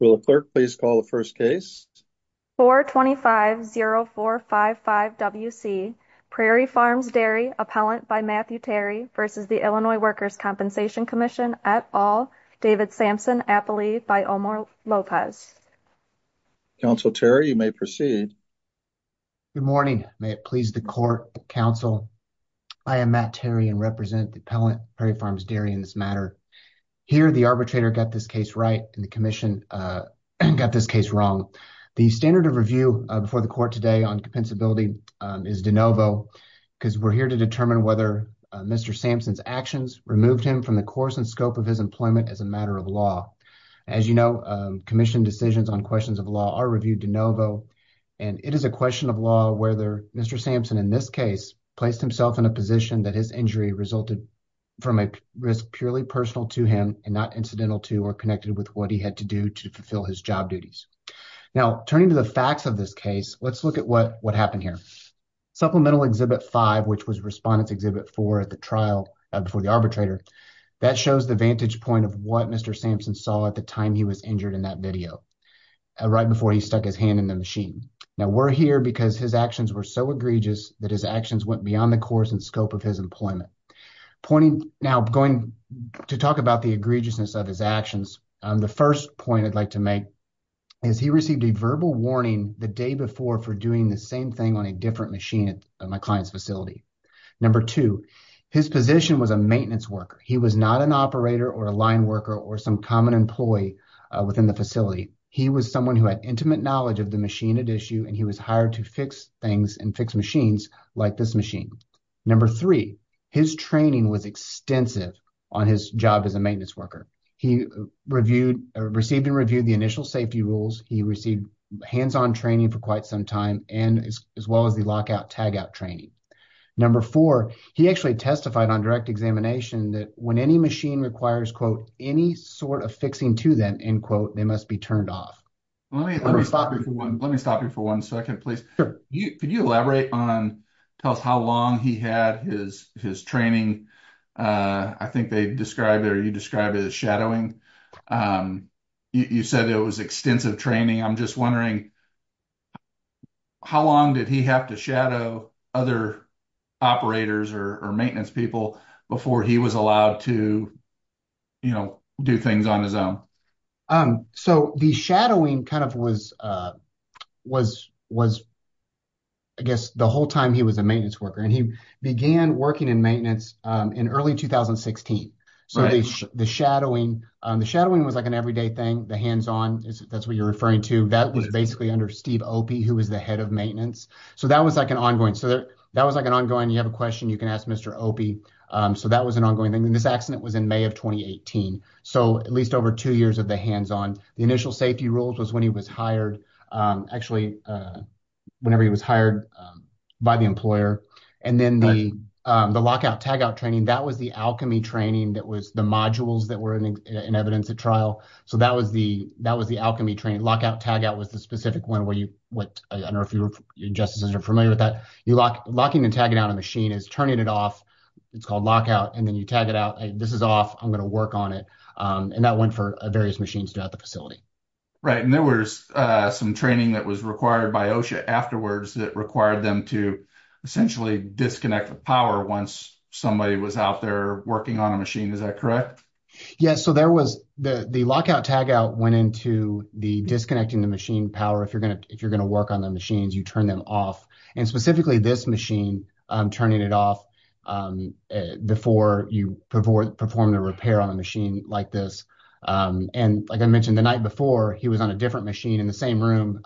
Will the clerk please call the first case? 425-0455-WC Prairie Farms Dairy, appellant by Matthew Terry v. Illinois Workers' Compensation Comm'n et al., David Sampson, appellee by Omar Lopez. Counsel Terry, you may proceed. Good morning. May it please the court, counsel, I am Matt Terry and represent the appellant, this matter. Here the arbitrator got this case right and the commission got this case wrong. The standard of review before the court today on compensability is de novo because we're here to determine whether Mr. Sampson's actions removed him from the course and scope of his employment as a matter of law. As you know, commission decisions on questions of law are reviewed de novo and it is a question of law whether Mr. Sampson in this case placed himself in a position that his injury resulted from a risk purely personal to him and not incidental to or connected with what he had to do to fulfill his job duties. Now, turning to the facts of this case, let's look at what happened here. Supplemental Exhibit 5, which was Respondent's Exhibit 4 at the trial before the arbitrator, that shows the vantage point of what Mr. Sampson saw at the time he was injured in that video, right before he stuck his hand in the machine. Now, we're here because his actions were so egregious that his actions went beyond the course and scope of his employment. Pointing now going to talk about the egregiousness of his actions, the first point I'd like to make is he received a verbal warning the day before for doing the same thing on a different machine at my client's facility. Number two, his position was a maintenance worker. He was not an operator or a line worker or some common employee within the facility. He was someone who had knowledge of the machine at issue, and he was hired to fix things and fix machines like this machine. Number three, his training was extensive on his job as a maintenance worker. He received and reviewed the initial safety rules. He received hands-on training for quite some time and as well as the lockout tagout training. Number four, he actually testified on direct examination that when any machine requires, quote, any sort of fixing to them, end quote, they must be turned off. Let me, let me stop you for one, let me stop you for one second, please. Sure. You, could you elaborate on, tell us how long he had his, his training? I think they describe it or you describe it as shadowing. You said it was extensive training. I'm just wondering how long did he have to shadow other operators or maintenance people before he was allowed to, you know, do things on his own? So, the shadowing kind of was, was, was, I guess the whole time he was a maintenance worker, and he began working in maintenance in early 2016. So, the shadowing, the shadowing was like an everyday thing, the hands-on, that's what you're referring to, that was basically under Steve Opie, who was the head of maintenance. So, that was like an ongoing, so that was like an ongoing, you have a question, you can ask Mr. Opie. So, that was an ongoing thing, and this accident was in May of 2018. So, at least over two years of the hands-on, the initial safety rules was when he was hired, actually, whenever he was hired by the employer, and then the, the lockout tagout training, that was the alchemy training, that was the modules that were in evidence at trial. So, that was the, that was the alchemy training, lockout tagout was the specific one where you, what, I don't know if you were, your justices are familiar with that, you lock, locking and tagging out a machine is turning it off, it's called lockout, and then you tag it out, this is off, I'm going to work on it, and that went for various machines throughout the facility. Right, and there was some training that was required by OSHA afterwards that required them to essentially disconnect the power once somebody was out there working on a machine, is that correct? Yes, so there was the, the lockout tagout went into the disconnecting the machine power, if you're going to work on the machines, you turn them off, and specifically this machine, turning it off before you perform the repair on a machine like this, and like I mentioned the night before, he was on a different machine in the same room,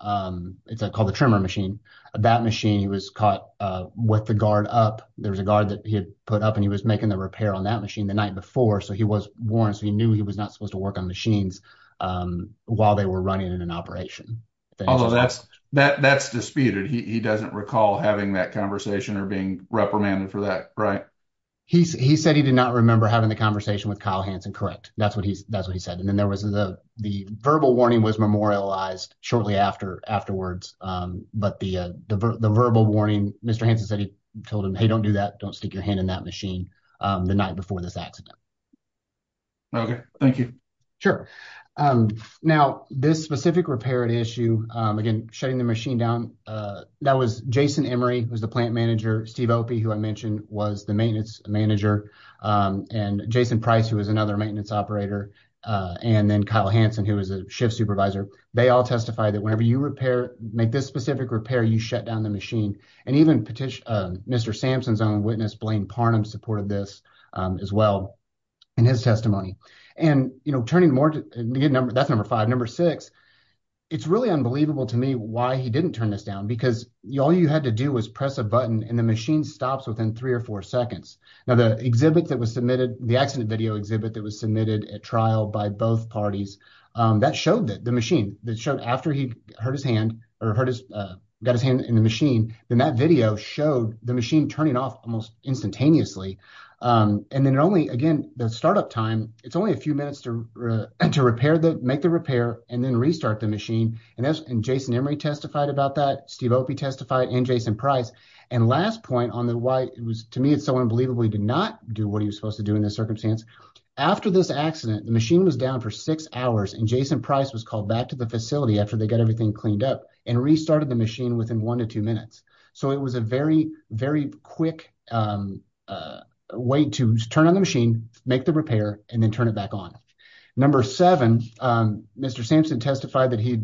it's called the trimmer machine, that machine was caught with the guard up, there was a guard that he had put up and he was making the repair on that machine the night before, so he was warned, so he knew he was not supposed to run it in an operation. Although that's disputed, he doesn't recall having that conversation or being reprimanded for that, right? He said he did not remember having the conversation with Kyle Hanson, correct, that's what he said, and then there was the verbal warning was memorialized shortly afterwards, but the verbal warning, Mr. Hanson said he told him, hey don't do that, don't stick your hand in that machine the night before this accident. Okay, thank you. Sure, now this specific repair issue, again shutting the machine down, that was Jason Emery, who's the plant manager, Steve Opie, who I mentioned was the maintenance manager, and Jason Price, who was another maintenance operator, and then Kyle Hanson, who was a shift supervisor, they all testified that whenever you repair, make this specific repair, you shut down the machine, and even Mr. Sampson's own witness, Blaine Parnum, supported this as well in his testimony, and you know, turning more to get number, that's number five, number six, it's really unbelievable to me why he didn't turn this down, because all you had to do was press a button, and the machine stops within three or four seconds. Now the exhibit that was submitted, the accident video exhibit that was submitted at trial by both parties, that showed that the machine, that showed after he hurt his hand, or hurt his, got his hand in the machine, then that video showed the machine turning off almost instantaneously, and then only, again, the startup time, it's only a few minutes to, to repair the, make the repair, and then restart the machine, and that's, and Jason Emery testified about that, Steve Opie testified, and Jason Price, and last point on the why it was, to me, it's so unbelievable he did not do what he was supposed to do in this circumstance, after this accident, the machine was down for six hours, and Jason Price was called back to the facility after they got everything cleaned up, and restarted the machine within one to two minutes, so it was a very, very quick uh, way to turn on the machine, make the repair, and then turn it back on. Number seven, um, Mr. Sampson testified that he,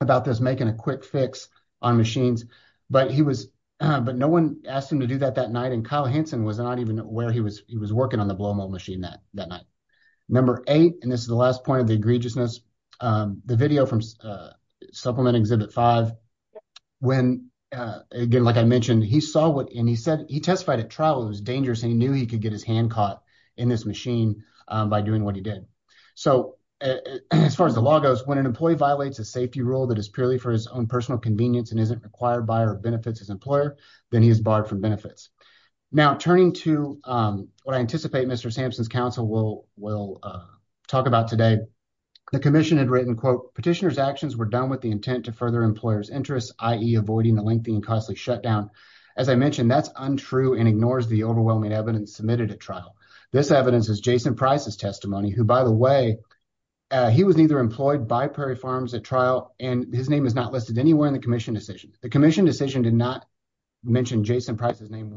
about this making a quick fix on machines, but he was, but no one asked him to do that that night, and Kyle Hanson was not even aware he was, he was working on the blow mold machine that, that night. Number eight, and this is the last point of the egregiousness, um, the video from supplement exhibit five, when, uh, again, like I mentioned, he saw what, and he said, he testified at trial, it was dangerous, he knew he could get his hand caught in this machine, um, by doing what he did, so as far as the law goes, when an employee violates a safety rule that is purely for his own personal convenience, and isn't required by or benefits his employer, then he is barred from benefits. Now, turning to, um, what I anticipate Mr. Sampson's counsel will, will, uh, talk about today, the commission had written, quote, petitioner's actions were done with the intent to further employer's interests, i.e. avoiding a lengthy and costly shutdown, as I mentioned, that's untrue and ignores the overwhelming evidence submitted at trial. This evidence is Jason Price's testimony, who, by the way, uh, he was neither employed by Prairie Farms at trial, and his name is not listed anywhere in the commission decision. The commission decision did not mention Jason Price's name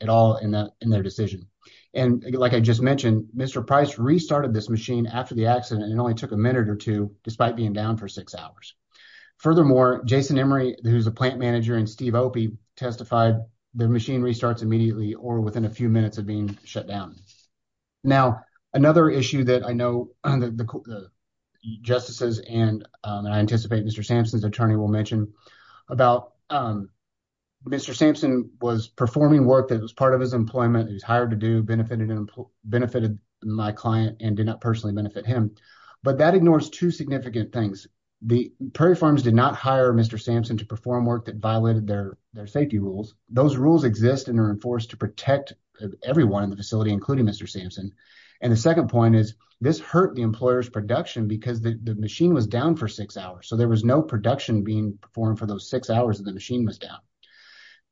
at all in that, in their decision, and like I just mentioned, Mr. Price restarted this machine after the accident, it only took a minute or two, despite being down for six hours. Furthermore, Jason Emery, who's a plant manager, and Steve Opie testified, the machine restarts immediately or within a few minutes of being shut down. Now, another issue that I know the, the justices and, um, and I anticipate Mr. Sampson's attorney will mention about, um, Mr. Sampson was performing work that was part of his employment, he was hired to do, benefited, benefited my client and did not personally benefit him, but that ignores two significant things. The, Prairie Farms did not hire Mr. Sampson to perform work that violated their safety rules. Those rules exist and are enforced to protect everyone in the facility, including Mr. Sampson, and the second point is this hurt the employer's production because the machine was down for six hours, so there was no production being performed for those six hours that the machine was down.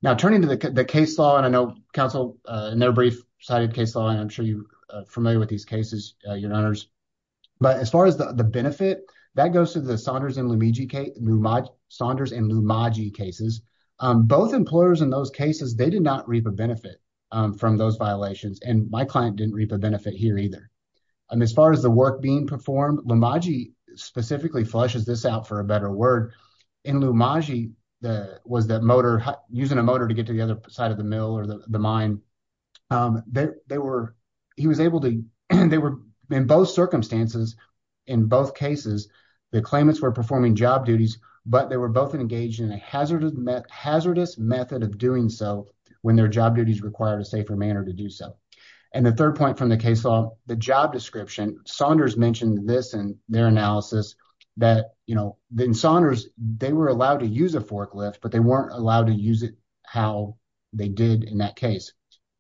Now, turning to the case law, and I know counsel, uh, in their brief cited case law, and I'm sure you're familiar with these cases, uh, your honors, but as far as the benefit, that goes to the Saunders and Lumaji cases, um, both employers in those cases, they did not reap a benefit, um, from those violations, and my client didn't reap a benefit here either, and as far as the work being performed, Lumaji specifically flushes this out for a better word, in Lumaji, the, was that motor, using a motor to get to the other side of the mill or the mine, um, they, they were, he was able to, they were in both circumstances, in both cases, the claimants were performing job duties, but they were both engaged in a hazardous, hazardous method of doing so when their job duties required a safer manner to do so, and the third point from the case law, the job description, Saunders mentioned this in their analysis that, you know, then Saunders, they were allowed to use a forklift, but they weren't allowed to use it how they did in that case,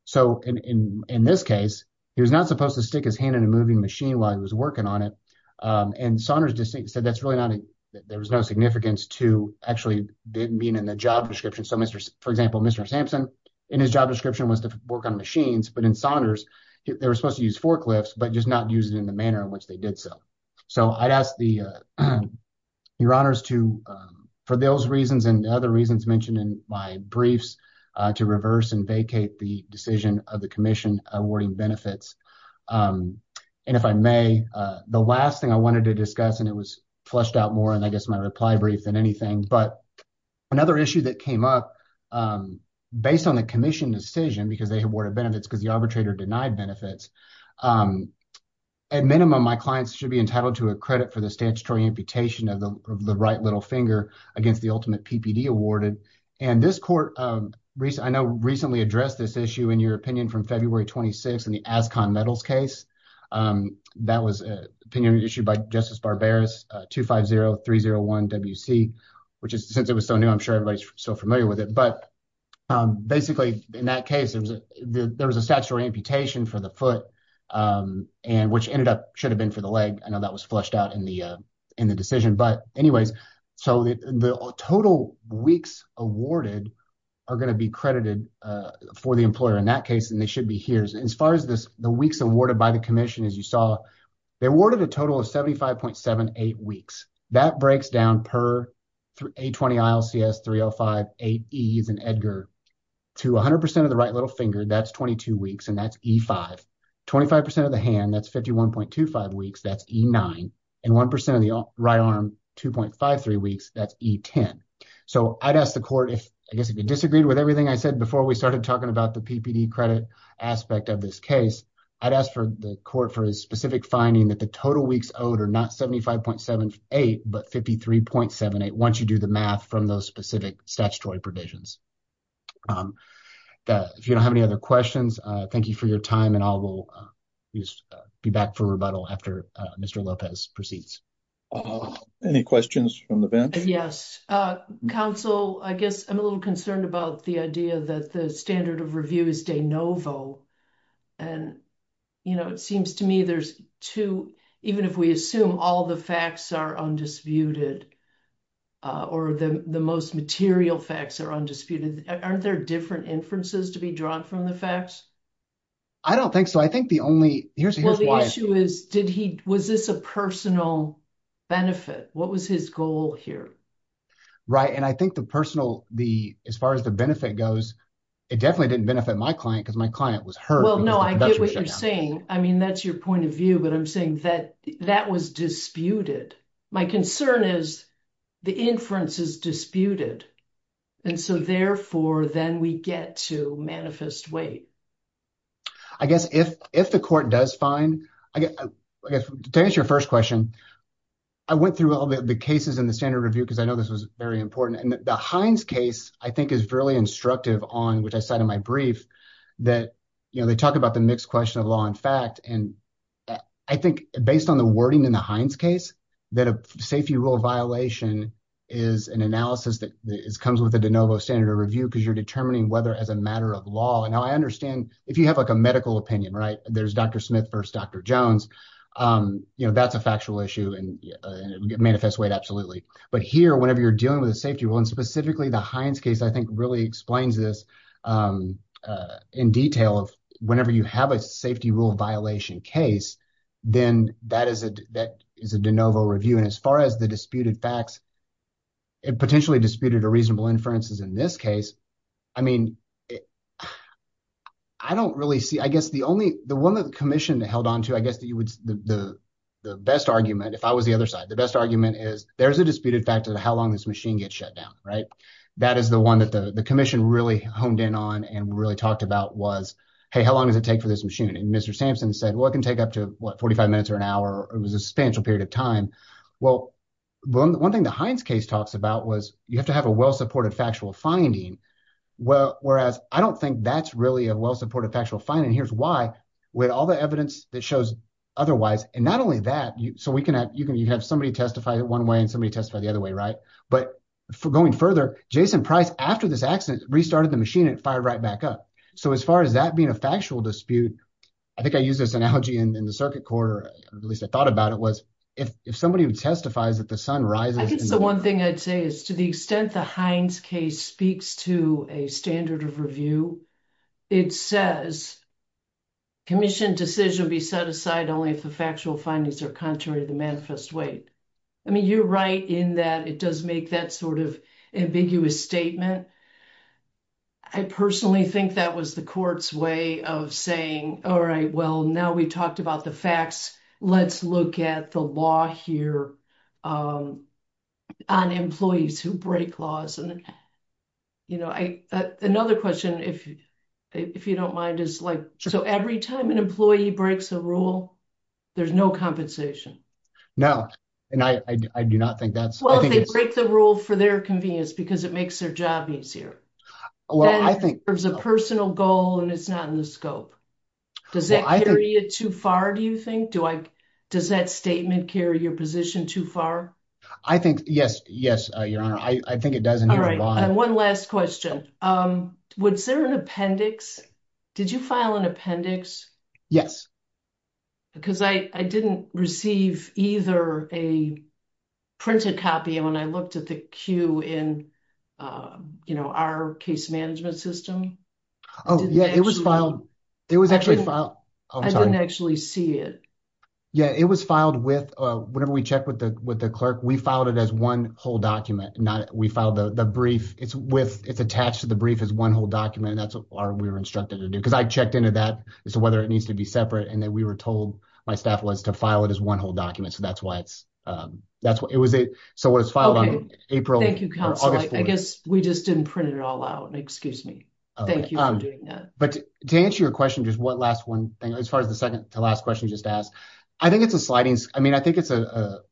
so in, in, in this case, he was not supposed to stick his hand in a moving machine while he was working on it, um, and Saunders distinctly said that's really not, there was no significance to actually being in the job description, so Mr., for example, Mr. Sampson, in his job description was to work on machines, but in Saunders, they were supposed to use forklifts, but just not use it in the manner in which they did so, so I'd ask the, uh, your honors to, um, for those reasons and other reasons mentioned in my briefs, uh, to reverse and vacate the decision of the commission awarding benefits, um, and if I may, uh, the last thing I wanted to discuss, and it was fleshed out more in, I guess, my reply brief than anything, but another issue that came up, um, based on the commission decision, because they should be entitled to a credit for the statutory amputation of the, of the right little finger against the ultimate PPD awarded, and this court, um, recent, I know recently addressed this issue in your opinion from February 26th in the Ascon Metals case, um, that was an opinion issued by Justice Barberis, uh, 250301 WC, which is, since it was so new, I'm sure everybody's so familiar with it, but, um, basically, in that case, there was a, there was a statutory amputation for the um, and which ended up, should have been for the leg, I know that was fleshed out in the, uh, in the decision, but anyways, so the, the total weeks awarded are going to be credited, uh, for the employer in that case, and they should be here. As far as this, the weeks awarded by the commission, as you saw, they awarded a total of 75.78 weeks. That breaks down per A20 ILCS 305 8Es and Edgar to 100% of the right little finger, that's 22 weeks, and that's E5, 25% of the hand, that's 51.25 weeks, that's E9, and 1% of the right arm, 2.53 weeks, that's E10. So, I'd ask the court if, I guess if you disagreed with everything I said before we started talking about the PPD credit aspect of this case, I'd ask for the court for a specific finding that the total weeks owed are not 75.78, but 53.78, once you do the math from those specific statutory provisions. If you don't have any other questions, thank you for your time, and I will be back for rebuttal after Mr. Lopez proceeds. Any questions from the bench? Yes. Council, I guess I'm a little concerned about the idea that the standard of review is de novo, and, you know, it seems to me there's too, even if we assume all the facts are undisputed, or the most material facts are undisputed, aren't there different inferences to be drawn from the facts? I don't think so. I think the only, here's why. Well, the issue is, did he, was this a personal benefit? What was his goal here? Right, and I think the personal, the, as far as the benefit goes, it definitely didn't benefit my client, because my client was hurt. Well, no, I get what you're saying. I mean, that's your point of view, but I'm saying that was disputed. My concern is the inference is disputed, and so, therefore, then we get to manifest weight. I guess if the court does find, I guess, to answer your first question, I went through all the cases in the standard review, because I know this was very important, and the Hines case, I think, is fairly instructive on, which I said in my brief, that they talk about the mixed question of law and fact, and I think, based on the wording in the Hines case, that a safety rule violation is an analysis that comes with the de novo standard of review, because you're determining whether, as a matter of law, and now, I understand, if you have a medical opinion, right, there's Dr. Smith versus Dr. Jones, that's a factual issue, and it would manifest weight, absolutely, but here, whenever you're dealing with a safety rule, specifically, the Hines case, I think, really explains this in detail of whenever you have a safety rule violation case, then that is a de novo review, and as far as the disputed facts, it potentially disputed a reasonable inferences in this case. I mean, I don't really see, I guess, the only, the one that the commission held on to, I guess, that you would, the best argument, if I was the other side, the best argument is, there's a disputed fact of how long this machine gets shut down, right? That is the one that the commission really honed in on and really talked about was, hey, how long does it take for this machine? And Mr. Sampson said, well, it can take up to, what, 45 minutes or an hour, it was a substantial period of time. Well, one thing the Hines case talks about was, you have to have a well-supported factual finding, whereas I don't think that's really a well-supported factual finding, and here's why, with all the evidence that shows otherwise, and not only that, so we have somebody testify one way and somebody testify the other way, right? But going further, Jason Price, after this accident, restarted the machine and it fired right back up. So as far as that being a factual dispute, I think I used this analogy in the circuit court, or at least I thought about it, was, if somebody who testifies that the sun rises... I guess the one thing I'd say is, to the extent the Hines case speaks to a standard of review, it says, commission decision be set aside only if the factual findings are contrary to the manifest weight. I mean, you're right in that it does make that sort of ambiguous statement. I personally think that was the court's way of saying, all right, well, now we talked about the facts, let's look at the law here on employees who break laws. And, you know, another question, if you don't mind, is like, so every time an employee breaks a rule, there's no compensation? No, and I do not think that's... Well, if they break the rule for their convenience, because it makes their job easier. Well, I think... There's a personal goal and it's not in the scope. Does that carry it too far, do you think? Does that statement carry your position too far? I think, yes, yes, Your Honor, I think it does. All right, and one last question. Was there an appendix? Did you file an appendix? Yes. Because I didn't receive either a printed copy when I looked at the queue in, you know, our case management system. Oh, yeah, it was filed. It was actually filed. I didn't actually see it. Yeah, it was filed with, whenever we check with the clerk, we filed it as one whole document. We filed the brief. It's attached to the brief as one whole document, and that's what we were instructed to do. Because I checked into that as to whether it needs to be separate, and then we were told, my staff was, to file it as one whole document. So that's why it's... So it was filed on April or August 4th. I guess we just didn't print it all out. Excuse me. Thank you for doing that. But to answer your question, just one last one thing, as far as the second to last question you just asked, I think it's a sliding... I mean, I think it's, for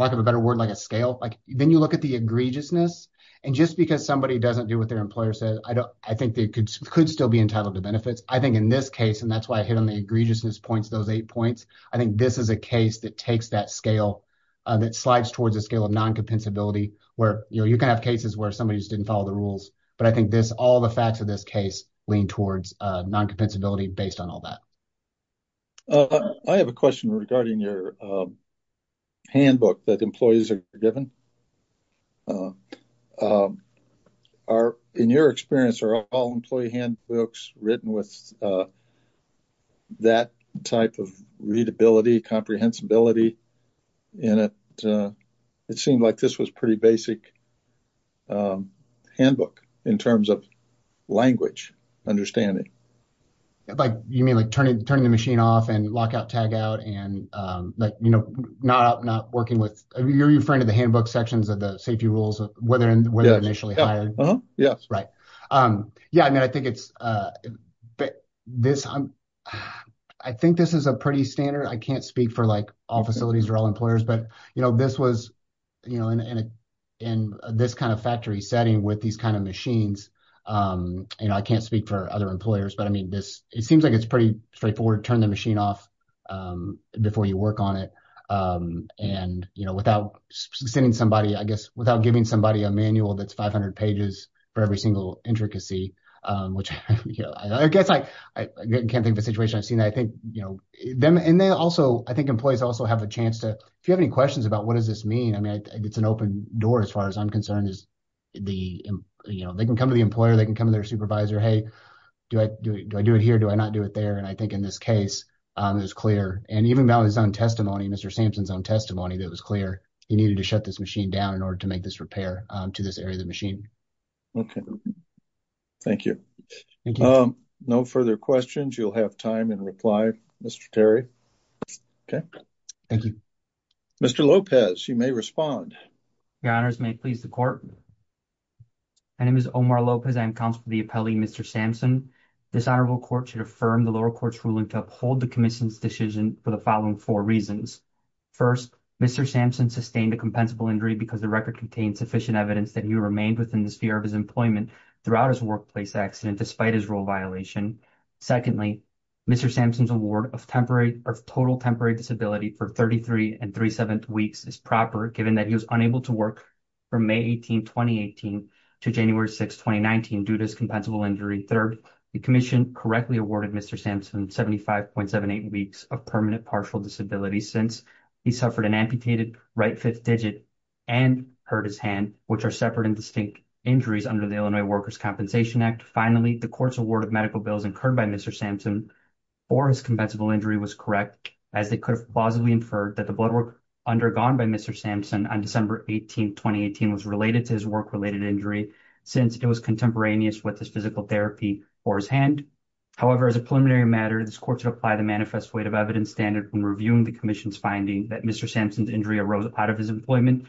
lack of a better word, like a scale. Then you look at the egregiousness, and just because somebody doesn't do what their employer says, I think they could still be entitled to benefits. I think in this case, and that's why I hit on the egregiousness points, those eight points, I think this is a case that takes that scale, that slides towards a scale of non-compensability where, you know, you can have cases where somebody just didn't follow the rules, but I think this, all the facts of this case lean towards non-compensability based on all that. I have a question regarding your handbook that employees are given. In your experience, are all employee handbooks written with that type of readability, comprehensibility in it? It seemed like this was a pretty basic handbook in terms of language understanding. Like, you mean like turning the machine off and lockout, tagout, and like, you know, not working with... Are you referring to the handbook sections of the safety rules of whether and whether initially hired? Yes. Right. Yeah, I mean, I think it's... I think this is a pretty standard. I can't speak for like all facilities or all employers, but, you know, this was, you know, in this kind of factory setting with these kind of machines, you know, I can't speak for other employers, but I mean, this, it seems like it's pretty straightforward to turn the machine off before you work on it. And, you know, without sending somebody, I guess, without giving somebody a manual that's 500 pages for every single intricacy, which, you know, I guess I can't think of a situation I've seen. I think, you know, them and they also, I think employees also have a chance to, if you have any questions about what does this mean? I mean, it's an open door as far as I'm concerned is the, you know, they can come to the employer, they can come to their supervisor. Hey, do I do it here? Do I not do it there? And I think in this case, it was clear. And even without his own testimony, Mr. Sampson's own testimony, that was clear. He needed to shut this machine down in order to make this repair to this area of the machine. Okay. Thank you. No further questions. You'll have time in reply, Mr. Terry. Okay. Thank you. Mr. Lopez, you may respond. Your honors, may it please the court. My name is Omar Lopez. I'm counsel for the appellee, Mr. Sampson. This honorable court should affirm the lower court's ruling to uphold the commission's decision for the following four reasons. First, Mr. Sampson sustained a compensable injury because the record contains sufficient evidence that he remained within the sphere of his employment throughout his workplace accident, despite his role violation. Secondly, Mr. Sampson's award of total temporary disability for 33 and 3 7 weeks is proper, given that he was unable to work from May 18, 2018 to January 6, 2019 due to his compensable injury. Third, the commission correctly awarded Mr. Sampson 75.78 weeks of permanent partial disability since he suffered an amputated right fifth digit and hurt his hand, which are separate and distinct injuries under the Illinois Workers' Compensation Act. Finally, the court's award of medical bills incurred by Mr. Sampson for his compensable injury was correct, as they could have plausibly inferred that the blood work undergone by Mr. Sampson on December 18, 2018 was related to his work-related injury, since it was contemporaneous with his physical therapy for his hand. However, as a preliminary matter, this court should apply the manifest weight of evidence standard when reviewing the commission's finding that Mr. Sampson's injury arose out of his employment,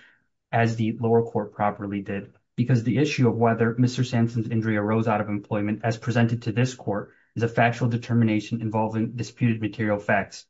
as the lower court properly did, because the issue of whether Mr. Sampson's injury arose out of employment, as presented to this court, is a factual determination involving disputed material facts.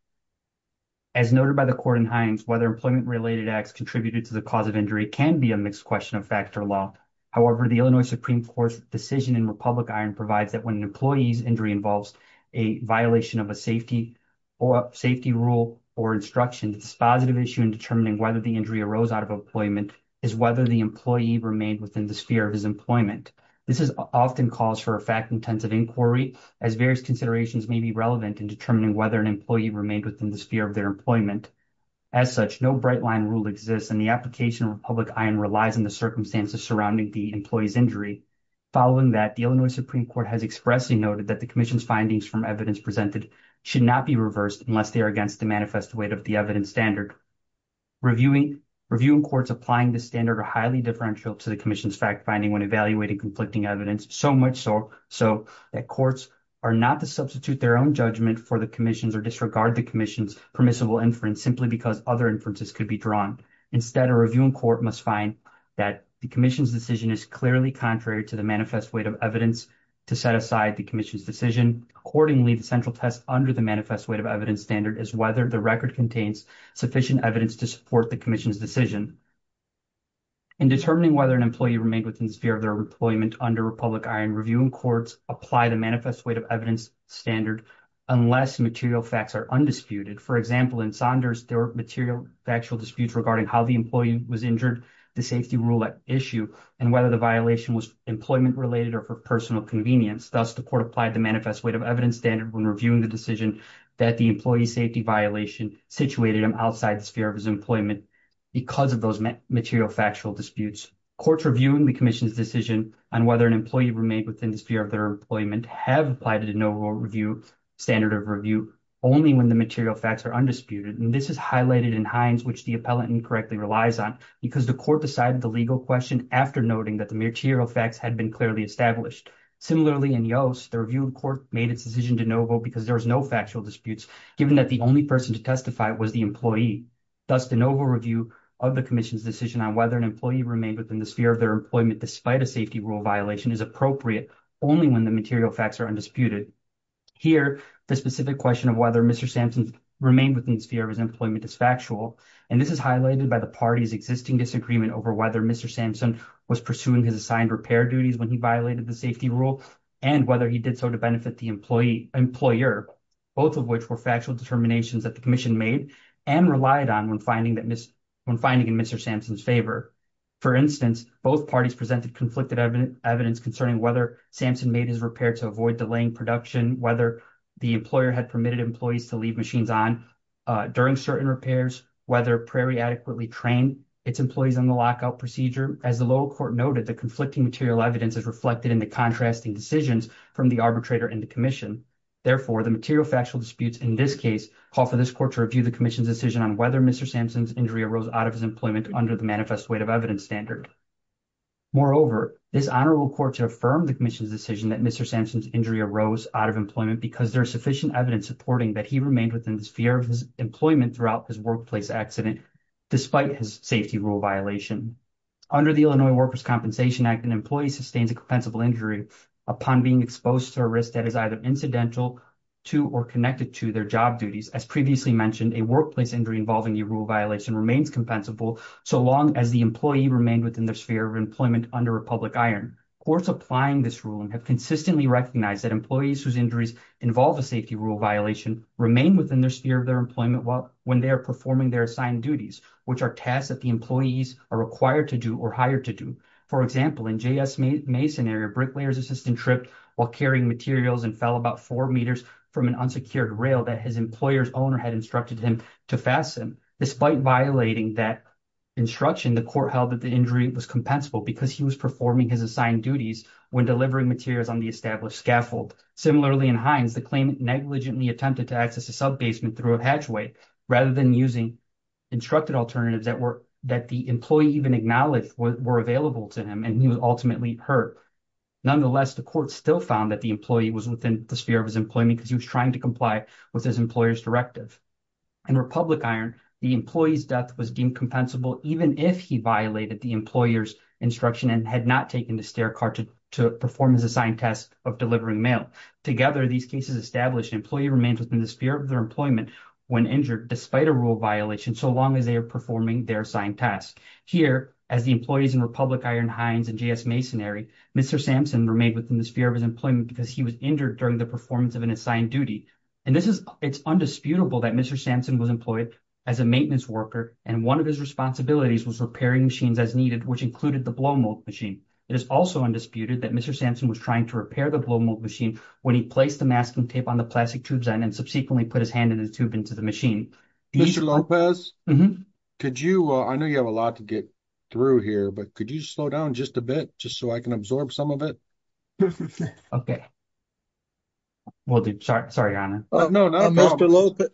As noted by the court in Hines, whether employment-related acts contributed to the cause of injury can be a mixed question of fact or law. However, the Illinois Supreme Court's decision in Republic Iron provides that when an employee's injury involves a violation of a safety rule or instruction, the positive issue in determining whether the injury arose out of employment is whether the employee remained within the sphere of his employment. This often calls for a fact-intensive inquiry, as various considerations may be relevant in determining whether an employee remained within the sphere of their employment. As such, no bright-line rule exists, and the application of Republic Iron relies on the circumstances surrounding the employee's injury. Following that, the Illinois Supreme Court has expressly noted that the commission's findings from evidence presented should not be reversed unless they are against the manifest weight of the evidence standard. Reviewing courts applying this standard are highly differential to the commission's fact-finding when evaluating conflicting evidence, so much so that courts are not to substitute their own judgment for the commission's or disregard the commission's permissible inference simply because other inferences could be drawn. Instead, a reviewing court must find that the commission's decision is clearly contrary to the manifest weight of evidence to set aside the commission's decision. Accordingly, the central test under the manifest weight of evidence standard is whether the record contains sufficient evidence to support the commission's decision. In determining whether an employee remained within the sphere of their employment under Republic Iron, reviewing courts apply the manifest weight of evidence standard unless material facts are undisputed. For example, in Saunders, there were material factual disputes regarding how the employee was injured, the safety rule at issue, and whether the violation was employment-related or for personal convenience. Thus, the court applied the manifest weight of evidence standard when reviewing the decision that the employee's safety violation situated outside the sphere of his employment because of those material factual disputes. Courts reviewing the commission's decision on whether an employee remained within the sphere of their employment have applied a de novo review standard of review only when the material facts are undisputed, and this is highlighted in Hines, which the appellant incorrectly relies on, because the court decided the legal question after noting that the material facts had been clearly established. Similarly, in Yost, the reviewing court made its decision de novo because there was no factual disputes given that the only person to testify was the employee. Thus, de novo review of the commission's decision on whether an employee remained within the sphere of their employment despite a safety rule violation is appropriate only when the material facts are undisputed. Here, the specific question of whether Mr. Sampson remained within the sphere of his employment is factual, and this is highlighted by the party's existing disagreement over whether Mr. Sampson was pursuing his assigned repair duties when he violated the safety rule and whether he did so to benefit the employer, both of which were factual determinations that the commission made and relied on when finding in Mr. Sampson's favor. For instance, both parties presented conflicted evidence concerning whether Sampson made his repair to avoid delaying production, whether the employer had permitted employees to leave machines on during certain repairs, whether Prairie adequately trained its employees on the lockout procedure. As the lower court noted, the arbitrator and the commission. Therefore, the material factual disputes in this case call for this court to review the commission's decision on whether Mr. Sampson's injury arose out of his employment under the manifest weight of evidence standard. Moreover, this honorable court to affirm the commission's decision that Mr. Sampson's injury arose out of employment because there is sufficient evidence supporting that he remained within the sphere of his employment throughout his workplace accident despite his safety rule violation. Under the Illinois Workers' Compensation Act, an employee sustains a compensable injury upon being exposed to a risk that is either incidental to or connected to their job duties. As previously mentioned, a workplace injury involving the rule violation remains compensable so long as the employee remained within the sphere of employment under a public iron. Courts applying this ruling have consistently recognized that employees whose injuries involve a safety rule violation remain within the sphere of their employment when they are performing their assigned duties, which are tasks that the employees are required to do or hired to do. For example, in J.S. Mason area, bricklayer's assistant tripped while carrying materials and fell about four meters from an unsecured rail that his employer's owner had instructed him to fasten. Despite violating that instruction, the court held that the injury was compensable because he was performing his assigned duties when delivering materials on the established scaffold. Similarly, in Hines, the claimant negligently attempted to access a sub-basement through a hatchway rather than using instructed alternatives that the employee even acknowledged were available to him and he was ultimately hurt. Nonetheless, the court still found that the employee was within the sphere of his employment because he was trying to comply with his employer's directive. In Republic Iron, the employee's death was deemed compensable even if he violated the employer's instruction and had not taken the stair cart to perform his assigned task of delivering mail. Together, these cases establish an employee remains within the sphere of their employment when injured despite a rule violation so long as they are performing their assigned task. Here, as the employees in Republic Iron Hines and JS Masonary, Mr. Sampson remained within the sphere of his employment because he was injured during the performance of an assigned duty and it's undisputable that Mr. Sampson was employed as a maintenance worker and one of his responsibilities was repairing machines as needed which included the blow mold machine. It is also undisputed that Mr. Sampson was trying to repair the blow mold machine when he placed the masking tape on the plastic tubes and subsequently put his hand in the tube into the machine. Mr. Lopez, could you, I know you have a lot to get through here, but could you slow down just a bit just so I can absorb some of it? Okay, we'll do. Sorry, your honor. No, no, Mr. Lopez.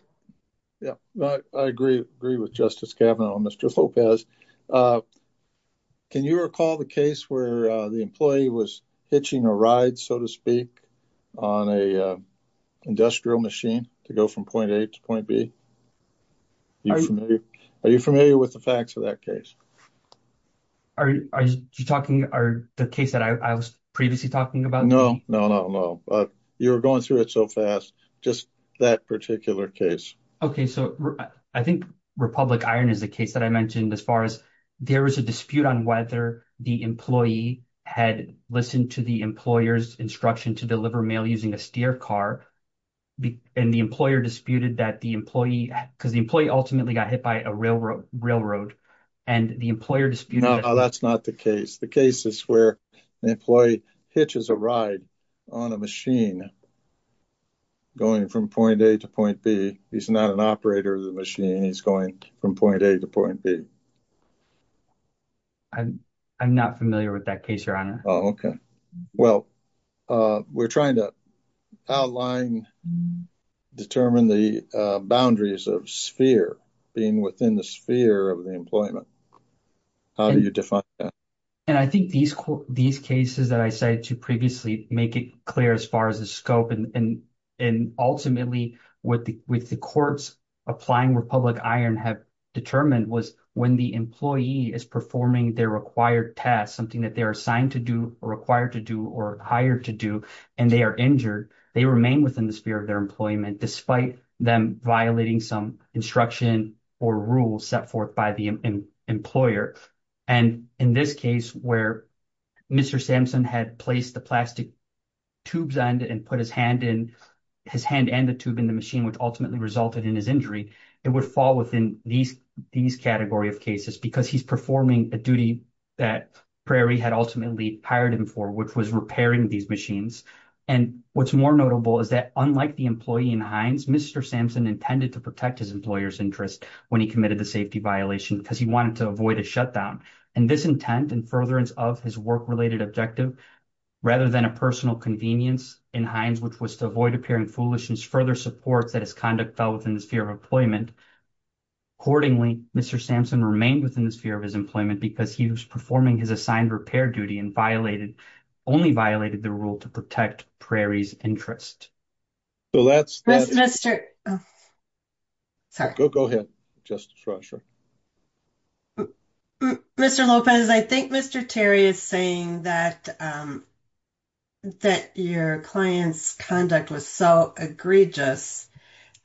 Yeah, I agree with Justice Kavanaugh on Mr. Lopez. Can you recall the case where the employee was hitching a ride, so to speak, on a industrial machine to go from point A to point B? Are you familiar with the facts of that case? Are you talking about the case that I was previously talking about? No, no, no, no, but you're going through it so fast. Just that particular case. Okay, so I think Republic Iron is the case that I mentioned as far as there was a dispute on whether the employee had listened to the employer's instruction to deliver mail using a steer car and the employer disputed that the employee, because the employee ultimately got hit by a railroad, and the employer disputed... No, that's not the case. The case is where the employee hitches a ride on a machine going from point A to point B. He's not an operator of the machine. He's going from point A to point B. I'm not familiar with that case, your honor. Oh, okay. Well, we're trying to outline, determine the boundaries of sphere, being within the sphere of the employment. How do you define that? I think these cases that I cited to previously make it clear as far as the scope, and ultimately what the courts applying Republic Iron have determined was when the employee is performing their required task, something that they're required to do or hired to do, and they are injured, they remain within the sphere of their employment despite them violating some instruction or rules set forth by the employer. And in this case where Mr. Sampson had placed the plastic tubes on and put his hand and the tube in the machine, which ultimately resulted in his injury, it would fall within these category of cases because he's performing a duty that Prairie had ultimately hired him for, which was repairing these machines. And what's more notable is that unlike the employee in Heinz, Mr. Sampson intended to protect his employer's interest when he committed the safety violation because he wanted to avoid a shutdown. And this intent and furtherance of his work-related objective, rather than a personal convenience in Heinz, which was to avoid appearing foolish and further supports that his conduct fell within the sphere of employment. Accordingly, Mr. Sampson remained within the sphere of his employment because he was performing his assigned repair duty and violated, only violated the rule to protect Prairie's interest. So that's... Mr. Lopez, I think Mr. Terry is saying that your client's conduct was so egregious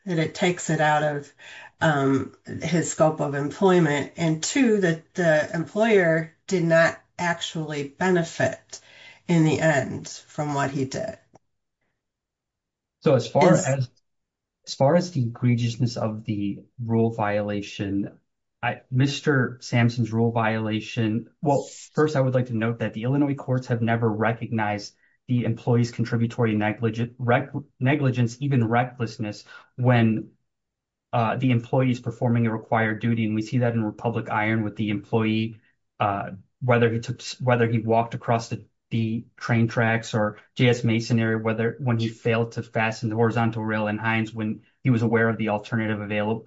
that it takes it out of his scope of employment. And two, that the employer did not actually benefit in the end from what he did. So as far as, as far as the egregiousness of the rule violation, Mr. Sampson's rule violation, well, first I would like to note that the Illinois courts have never recognized the employee's contributory negligence, even recklessness when the employee is performing a required duty. And we see that in Republic Iron with the employee, whether he took, whether he walked across the train tracks or J.S. Mason area, whether when he failed to fasten the horizontal rail in Heinz, when he was aware of the alternative available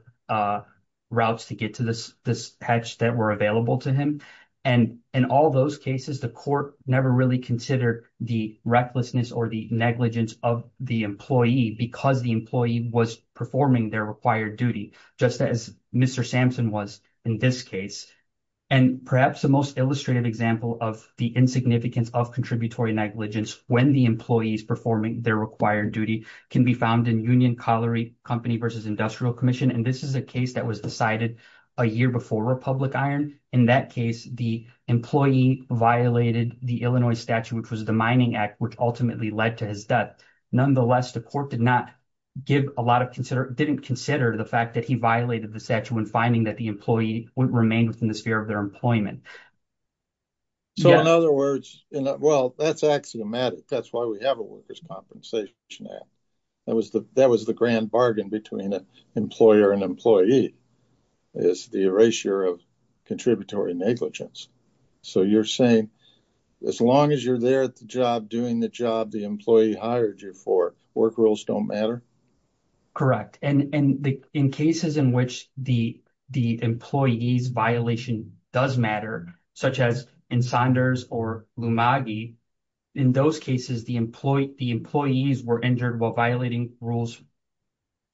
routes to get to this, this patch that were available to him. And in all those cases, the court never really considered the recklessness or the negligence of the employee because the employee was performing their required duty, just as Mr. Sampson was in this case. And perhaps the most illustrative example of the insignificance of contributory negligence when the employee is performing their required duty can be found in Union Colliery Company versus Industrial Commission. And this is a case that was decided a year before Republic Iron. In that case, the employee violated the Illinois statute, which was the Mining Act, which ultimately led to his death. Nonetheless, the court did not give a lot of didn't consider the fact that he violated the statute when finding that the employee would remain within the sphere of their employment. So in other words, well, that's axiomatic. That's why we have a workers' compensation act. That was the that was the grand bargain between an employer and employee is the erasure of contributory negligence. So you're saying as long as you're there at the job, doing the job the employee hired you for, work rules don't matter? Correct. And in cases in which the the employee's violation does matter, such as in Saunders or Lumagi, in those cases, the employee, the employees were injured while violating rules,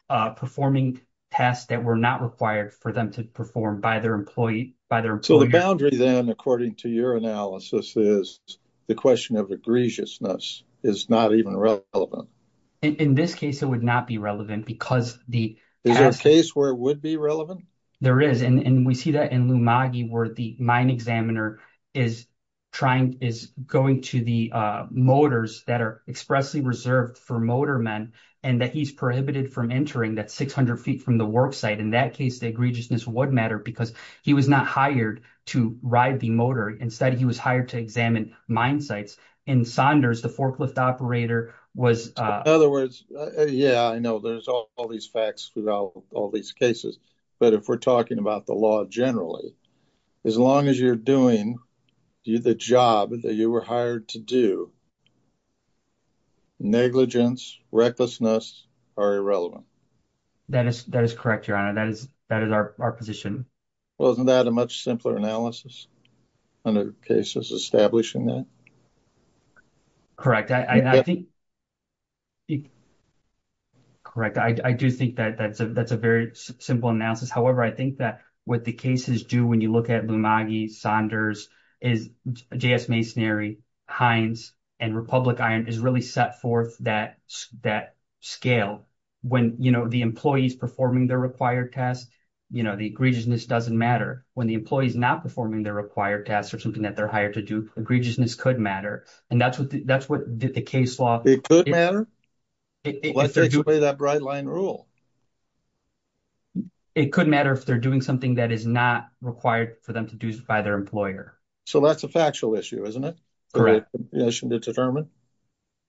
performing tasks that were not required for them to perform by their employee, by their boundary. Then, according to your analysis, is the question of egregiousness is not even relevant. In this case, it would not be relevant because the is there a case where it would be relevant? There is. And we see that in Lumagi where the mine examiner is trying is going to the motors that are expressly reserved for motor men and that he's prohibited from entering that 600 feet from the work site. In that case, the egregiousness would matter because he was not hired to ride the motor. Instead, he was hired to examine mine sites. In Saunders, the forklift operator was. In other words, yeah, I know there's all these facts about all these cases, but if we're talking about the law generally, as long as you're doing the job that you were to do. Negligence, recklessness are irrelevant. That is that is correct, your honor. That is that is our position. Well, isn't that a much simpler analysis under cases establishing that? Correct, I think. Correct, I do think that that's a that's a very simple analysis. However, I think that with the cases do when you look at Lumagi Saunders is J.S. Masonary, Heinz, and Republic Iron is really set forth that that scale when you know the employees performing their required test. You know the egregiousness doesn't matter when the employees not performing their required tests or something that they're hired to do. Egregiousness could matter, and that's what that's what the case law. It could matter. Let's take away that bright line rule. It could matter if they're doing something that is not required for them to do by their employer. So that's a factual issue, isn't it? Correct. The commission did determine.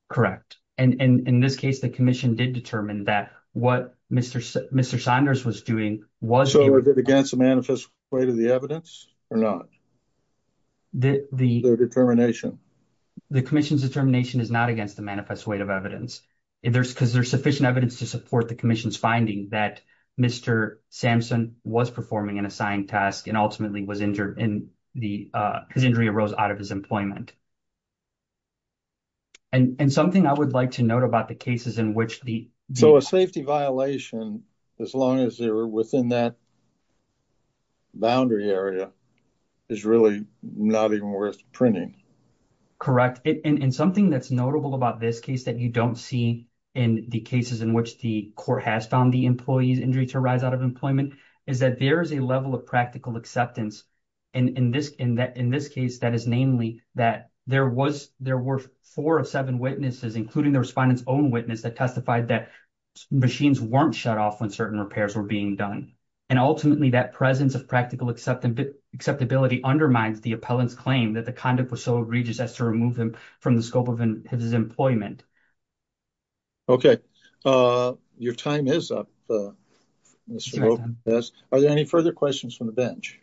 Correct. And in this case, the commission did determine that what Mr. Mr. Saunders was doing was against the manifest weight of the evidence or not. The the determination. The commission's determination is not against the manifest weight of evidence. If there's because there's sufficient evidence to support the commission's finding that Mr. Samson was performing an assigned task and ultimately was injured in the his injury arose out of his employment. And something I would like to note about the cases in which the so a safety violation, as long as they were within that. Boundary area is really not even worth printing. Correct in something that's notable about this case that you don't see in the cases in which the court has found the employees injury to rise out of employment is that there is a level of practical acceptance. And in this in that in this case, that is namely that there was there were four of seven witnesses, including the respondents own witness that testified that machines weren't shut off when certain repairs were being done. And ultimately, that presence of practical acceptance, acceptability undermines the appellant's claim that the conduct was so egregious as to remove him from the scope of his employment. Okay, your time is up. Yes. Are there any further questions from the bench?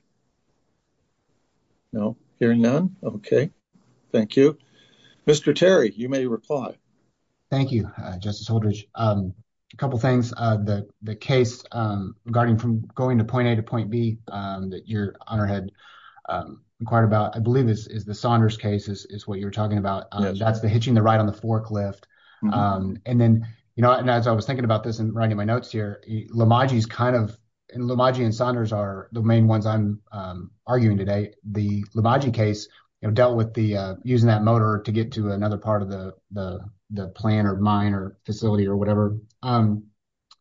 No, hearing none. Okay. Thank you. Mr. Terry, you may reply. Thank you, Justice Holdridge. A couple things that the case regarding from going to point A point B that your honor had inquired about, I believe this is the Saunders cases is what you're talking about. That's the hitching the ride on the forklift. And then, you know, and as I was thinking about this and writing my notes here, Lamar, he's kind of in Lamar and Saunders are the main ones I'm arguing today. The Lamar case dealt with the using that motor to get to another part of the plan or mine or facility or whatever.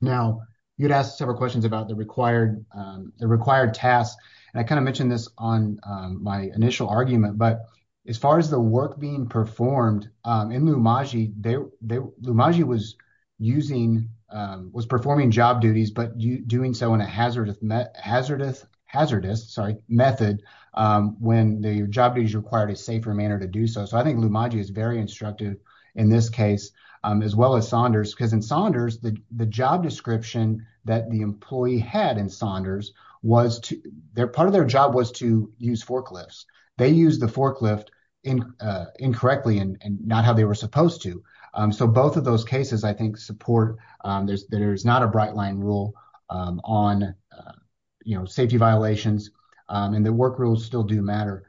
Now, you'd ask several questions about the the required tasks. And I kind of mentioned this on my initial argument. But as far as the work being performed in Lumagee, Lumagee was using was performing job duties, but doing so in a hazardous hazardous, sorry, method when the job is required a safer manner to do so. So I think Lumagee is very instructive in this case, as well as Saunders, because in Saunders, the job description that the employee had in Saunders was to their part of their job was to use forklifts. They use the forklift in incorrectly and not how they were supposed to. So both of those cases, I think support there's there's not a bright line rule on, you know, safety violations, and the work rules still do matter.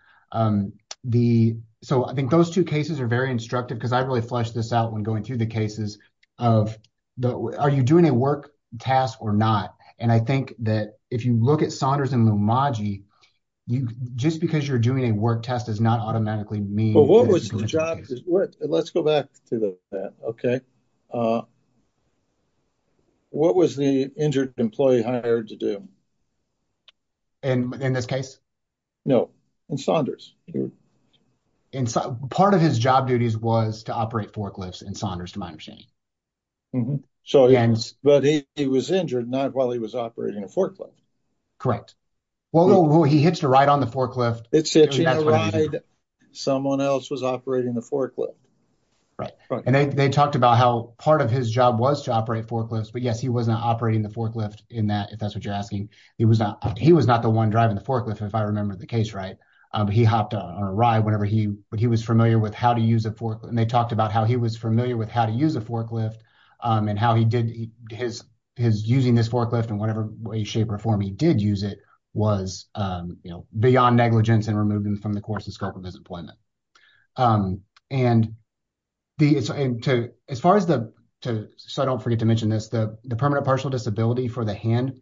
The so I think those two cases are very instructive, because I really flesh this out when going through the cases of the Are you doing a work task or not? And I think that if you look at Saunders and Lumagee, you just because you're doing a work test is not automatically me. But what was the job? Let's go back to that. Okay. What was the injured employee hired to do? And in this case? No. And Saunders. And part of his job duties was to operate forklifts in Saunders to my understanding. So, but he was injured not while he was operating a forklift. Correct. Well, he hitched a ride on the forklift. It's a ride. Someone else was operating the forklift. Right. And they talked about how part of his job was to operate forklifts. But yes, wasn't operating the forklift in that if that's what you're asking. He was not he was not the one driving the forklift. If I remember the case, right. He hopped on a ride whenever he but he was familiar with how to use a fork. And they talked about how he was familiar with how to use a forklift and how he did his his using this forklift and whatever way shape or form he did use it was, you know, beyond negligence and removing from the course of scope of his employment. And the as far as the so I don't forget to mention this, the permanent partial disability for the hand.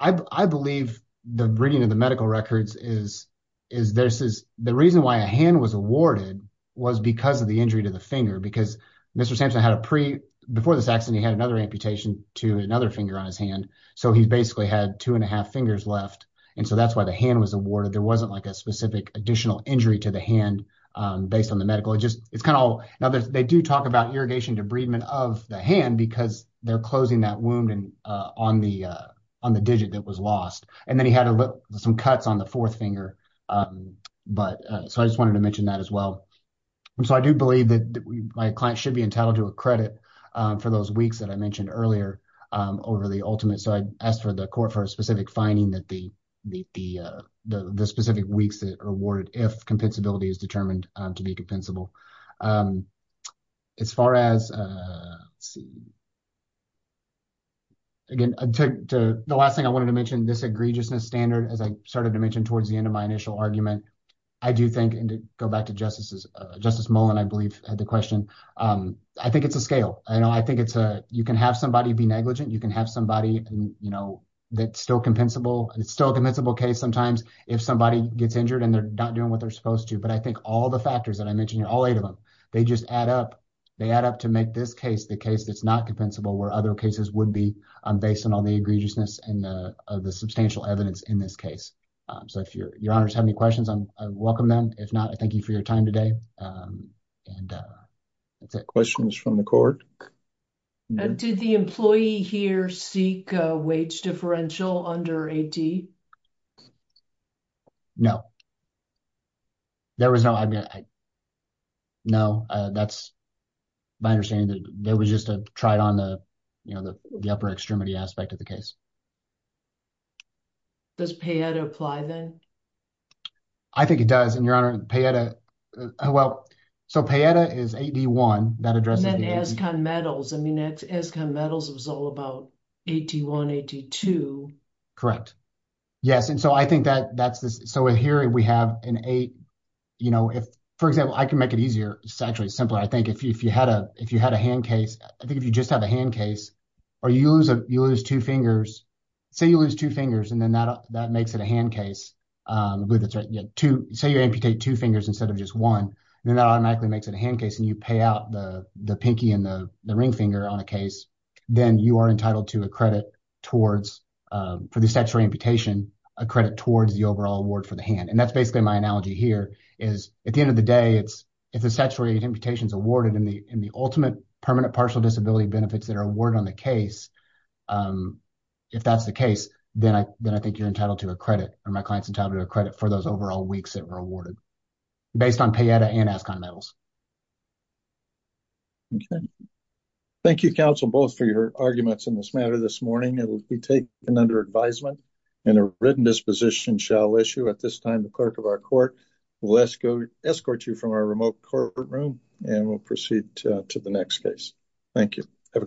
I believe the reading of the medical records is is this is the reason why a hand was awarded was because of the injury to the finger because Mr. Sampson had a pre before this accident, he had another amputation to another finger on his hand. So he basically had two and a half fingers left. And so that's why the hand was awarded. There wasn't like a specific additional injury to the hand based on the medical. It just it's kind of now they do talk about irrigation debridement of the hand because they're closing that wound and on the on the digit that was lost. And then he had some cuts on the fourth finger. But so I just wanted to mention that as well. So I do believe that my client should be entitled to a credit for those weeks that I mentioned earlier over the ultimate. So I asked for the court for a specific finding that the the the specific weeks that are awarded if compensability is determined to be compensable. As far as again, the last thing I wanted to mention, this egregiousness standard, as I started to mention towards the end of my initial argument, I do think and go back to justices. Justice Mullen, I believe, had the question. I think it's a scale. I think it's a you can have somebody be negligent. You can have somebody, you know, that's still compensable. And it's still a compensable case sometimes if somebody gets injured and they're not doing what they're supposed to. But I think all the factors that I mentioned, all eight of them, they just add up. They add up to make this case the case that's not compensable, where other cases would be based on all the egregiousness and the substantial evidence in this case. So if your honors have any questions, I welcome them. If not, I thank you for your time today. And that's it. Questions from the court. Did the employee here seek a wage differential under AD? No. There was no idea. No, that's my understanding that there was just a tried on the, you know, the upper extremity aspect of the case. Does PAETA apply then? I think it does. And your honor, PAETA, well, so PAETA is AD1. And then ASCON Medals. I mean, ASCON Medals was all about AD1, AD2. Correct. Yes. And so I think that's this. So here we have an eight, you know, if, for example, I can make it easier. It's actually simpler. I think if you had a hand case, I think if you just have a hand case, or you lose two fingers, say you lose two fingers and then that makes it a hand case. Say you amputate two fingers instead of just one, then that automatically makes it a the pinky and the ring finger on a case. Then you are entitled to a credit towards, for the statutory amputation, a credit towards the overall award for the hand. And that's basically my analogy here is at the end of the day, it's if the statutory amputation is awarded in the ultimate permanent partial disability benefits that are awarded on the case. If that's the case, then I think you're entitled to a credit or my client's entitled to a credit for those overall weeks that were awarded based on PAETA and ASCON Medals. Okay. Thank you, counsel, both for your arguments in this matter this morning. It will be taken under advisement and a written disposition shall issue at this time. The clerk of our court will escort you from our remote courtroom and we'll proceed to the next case. Thank you.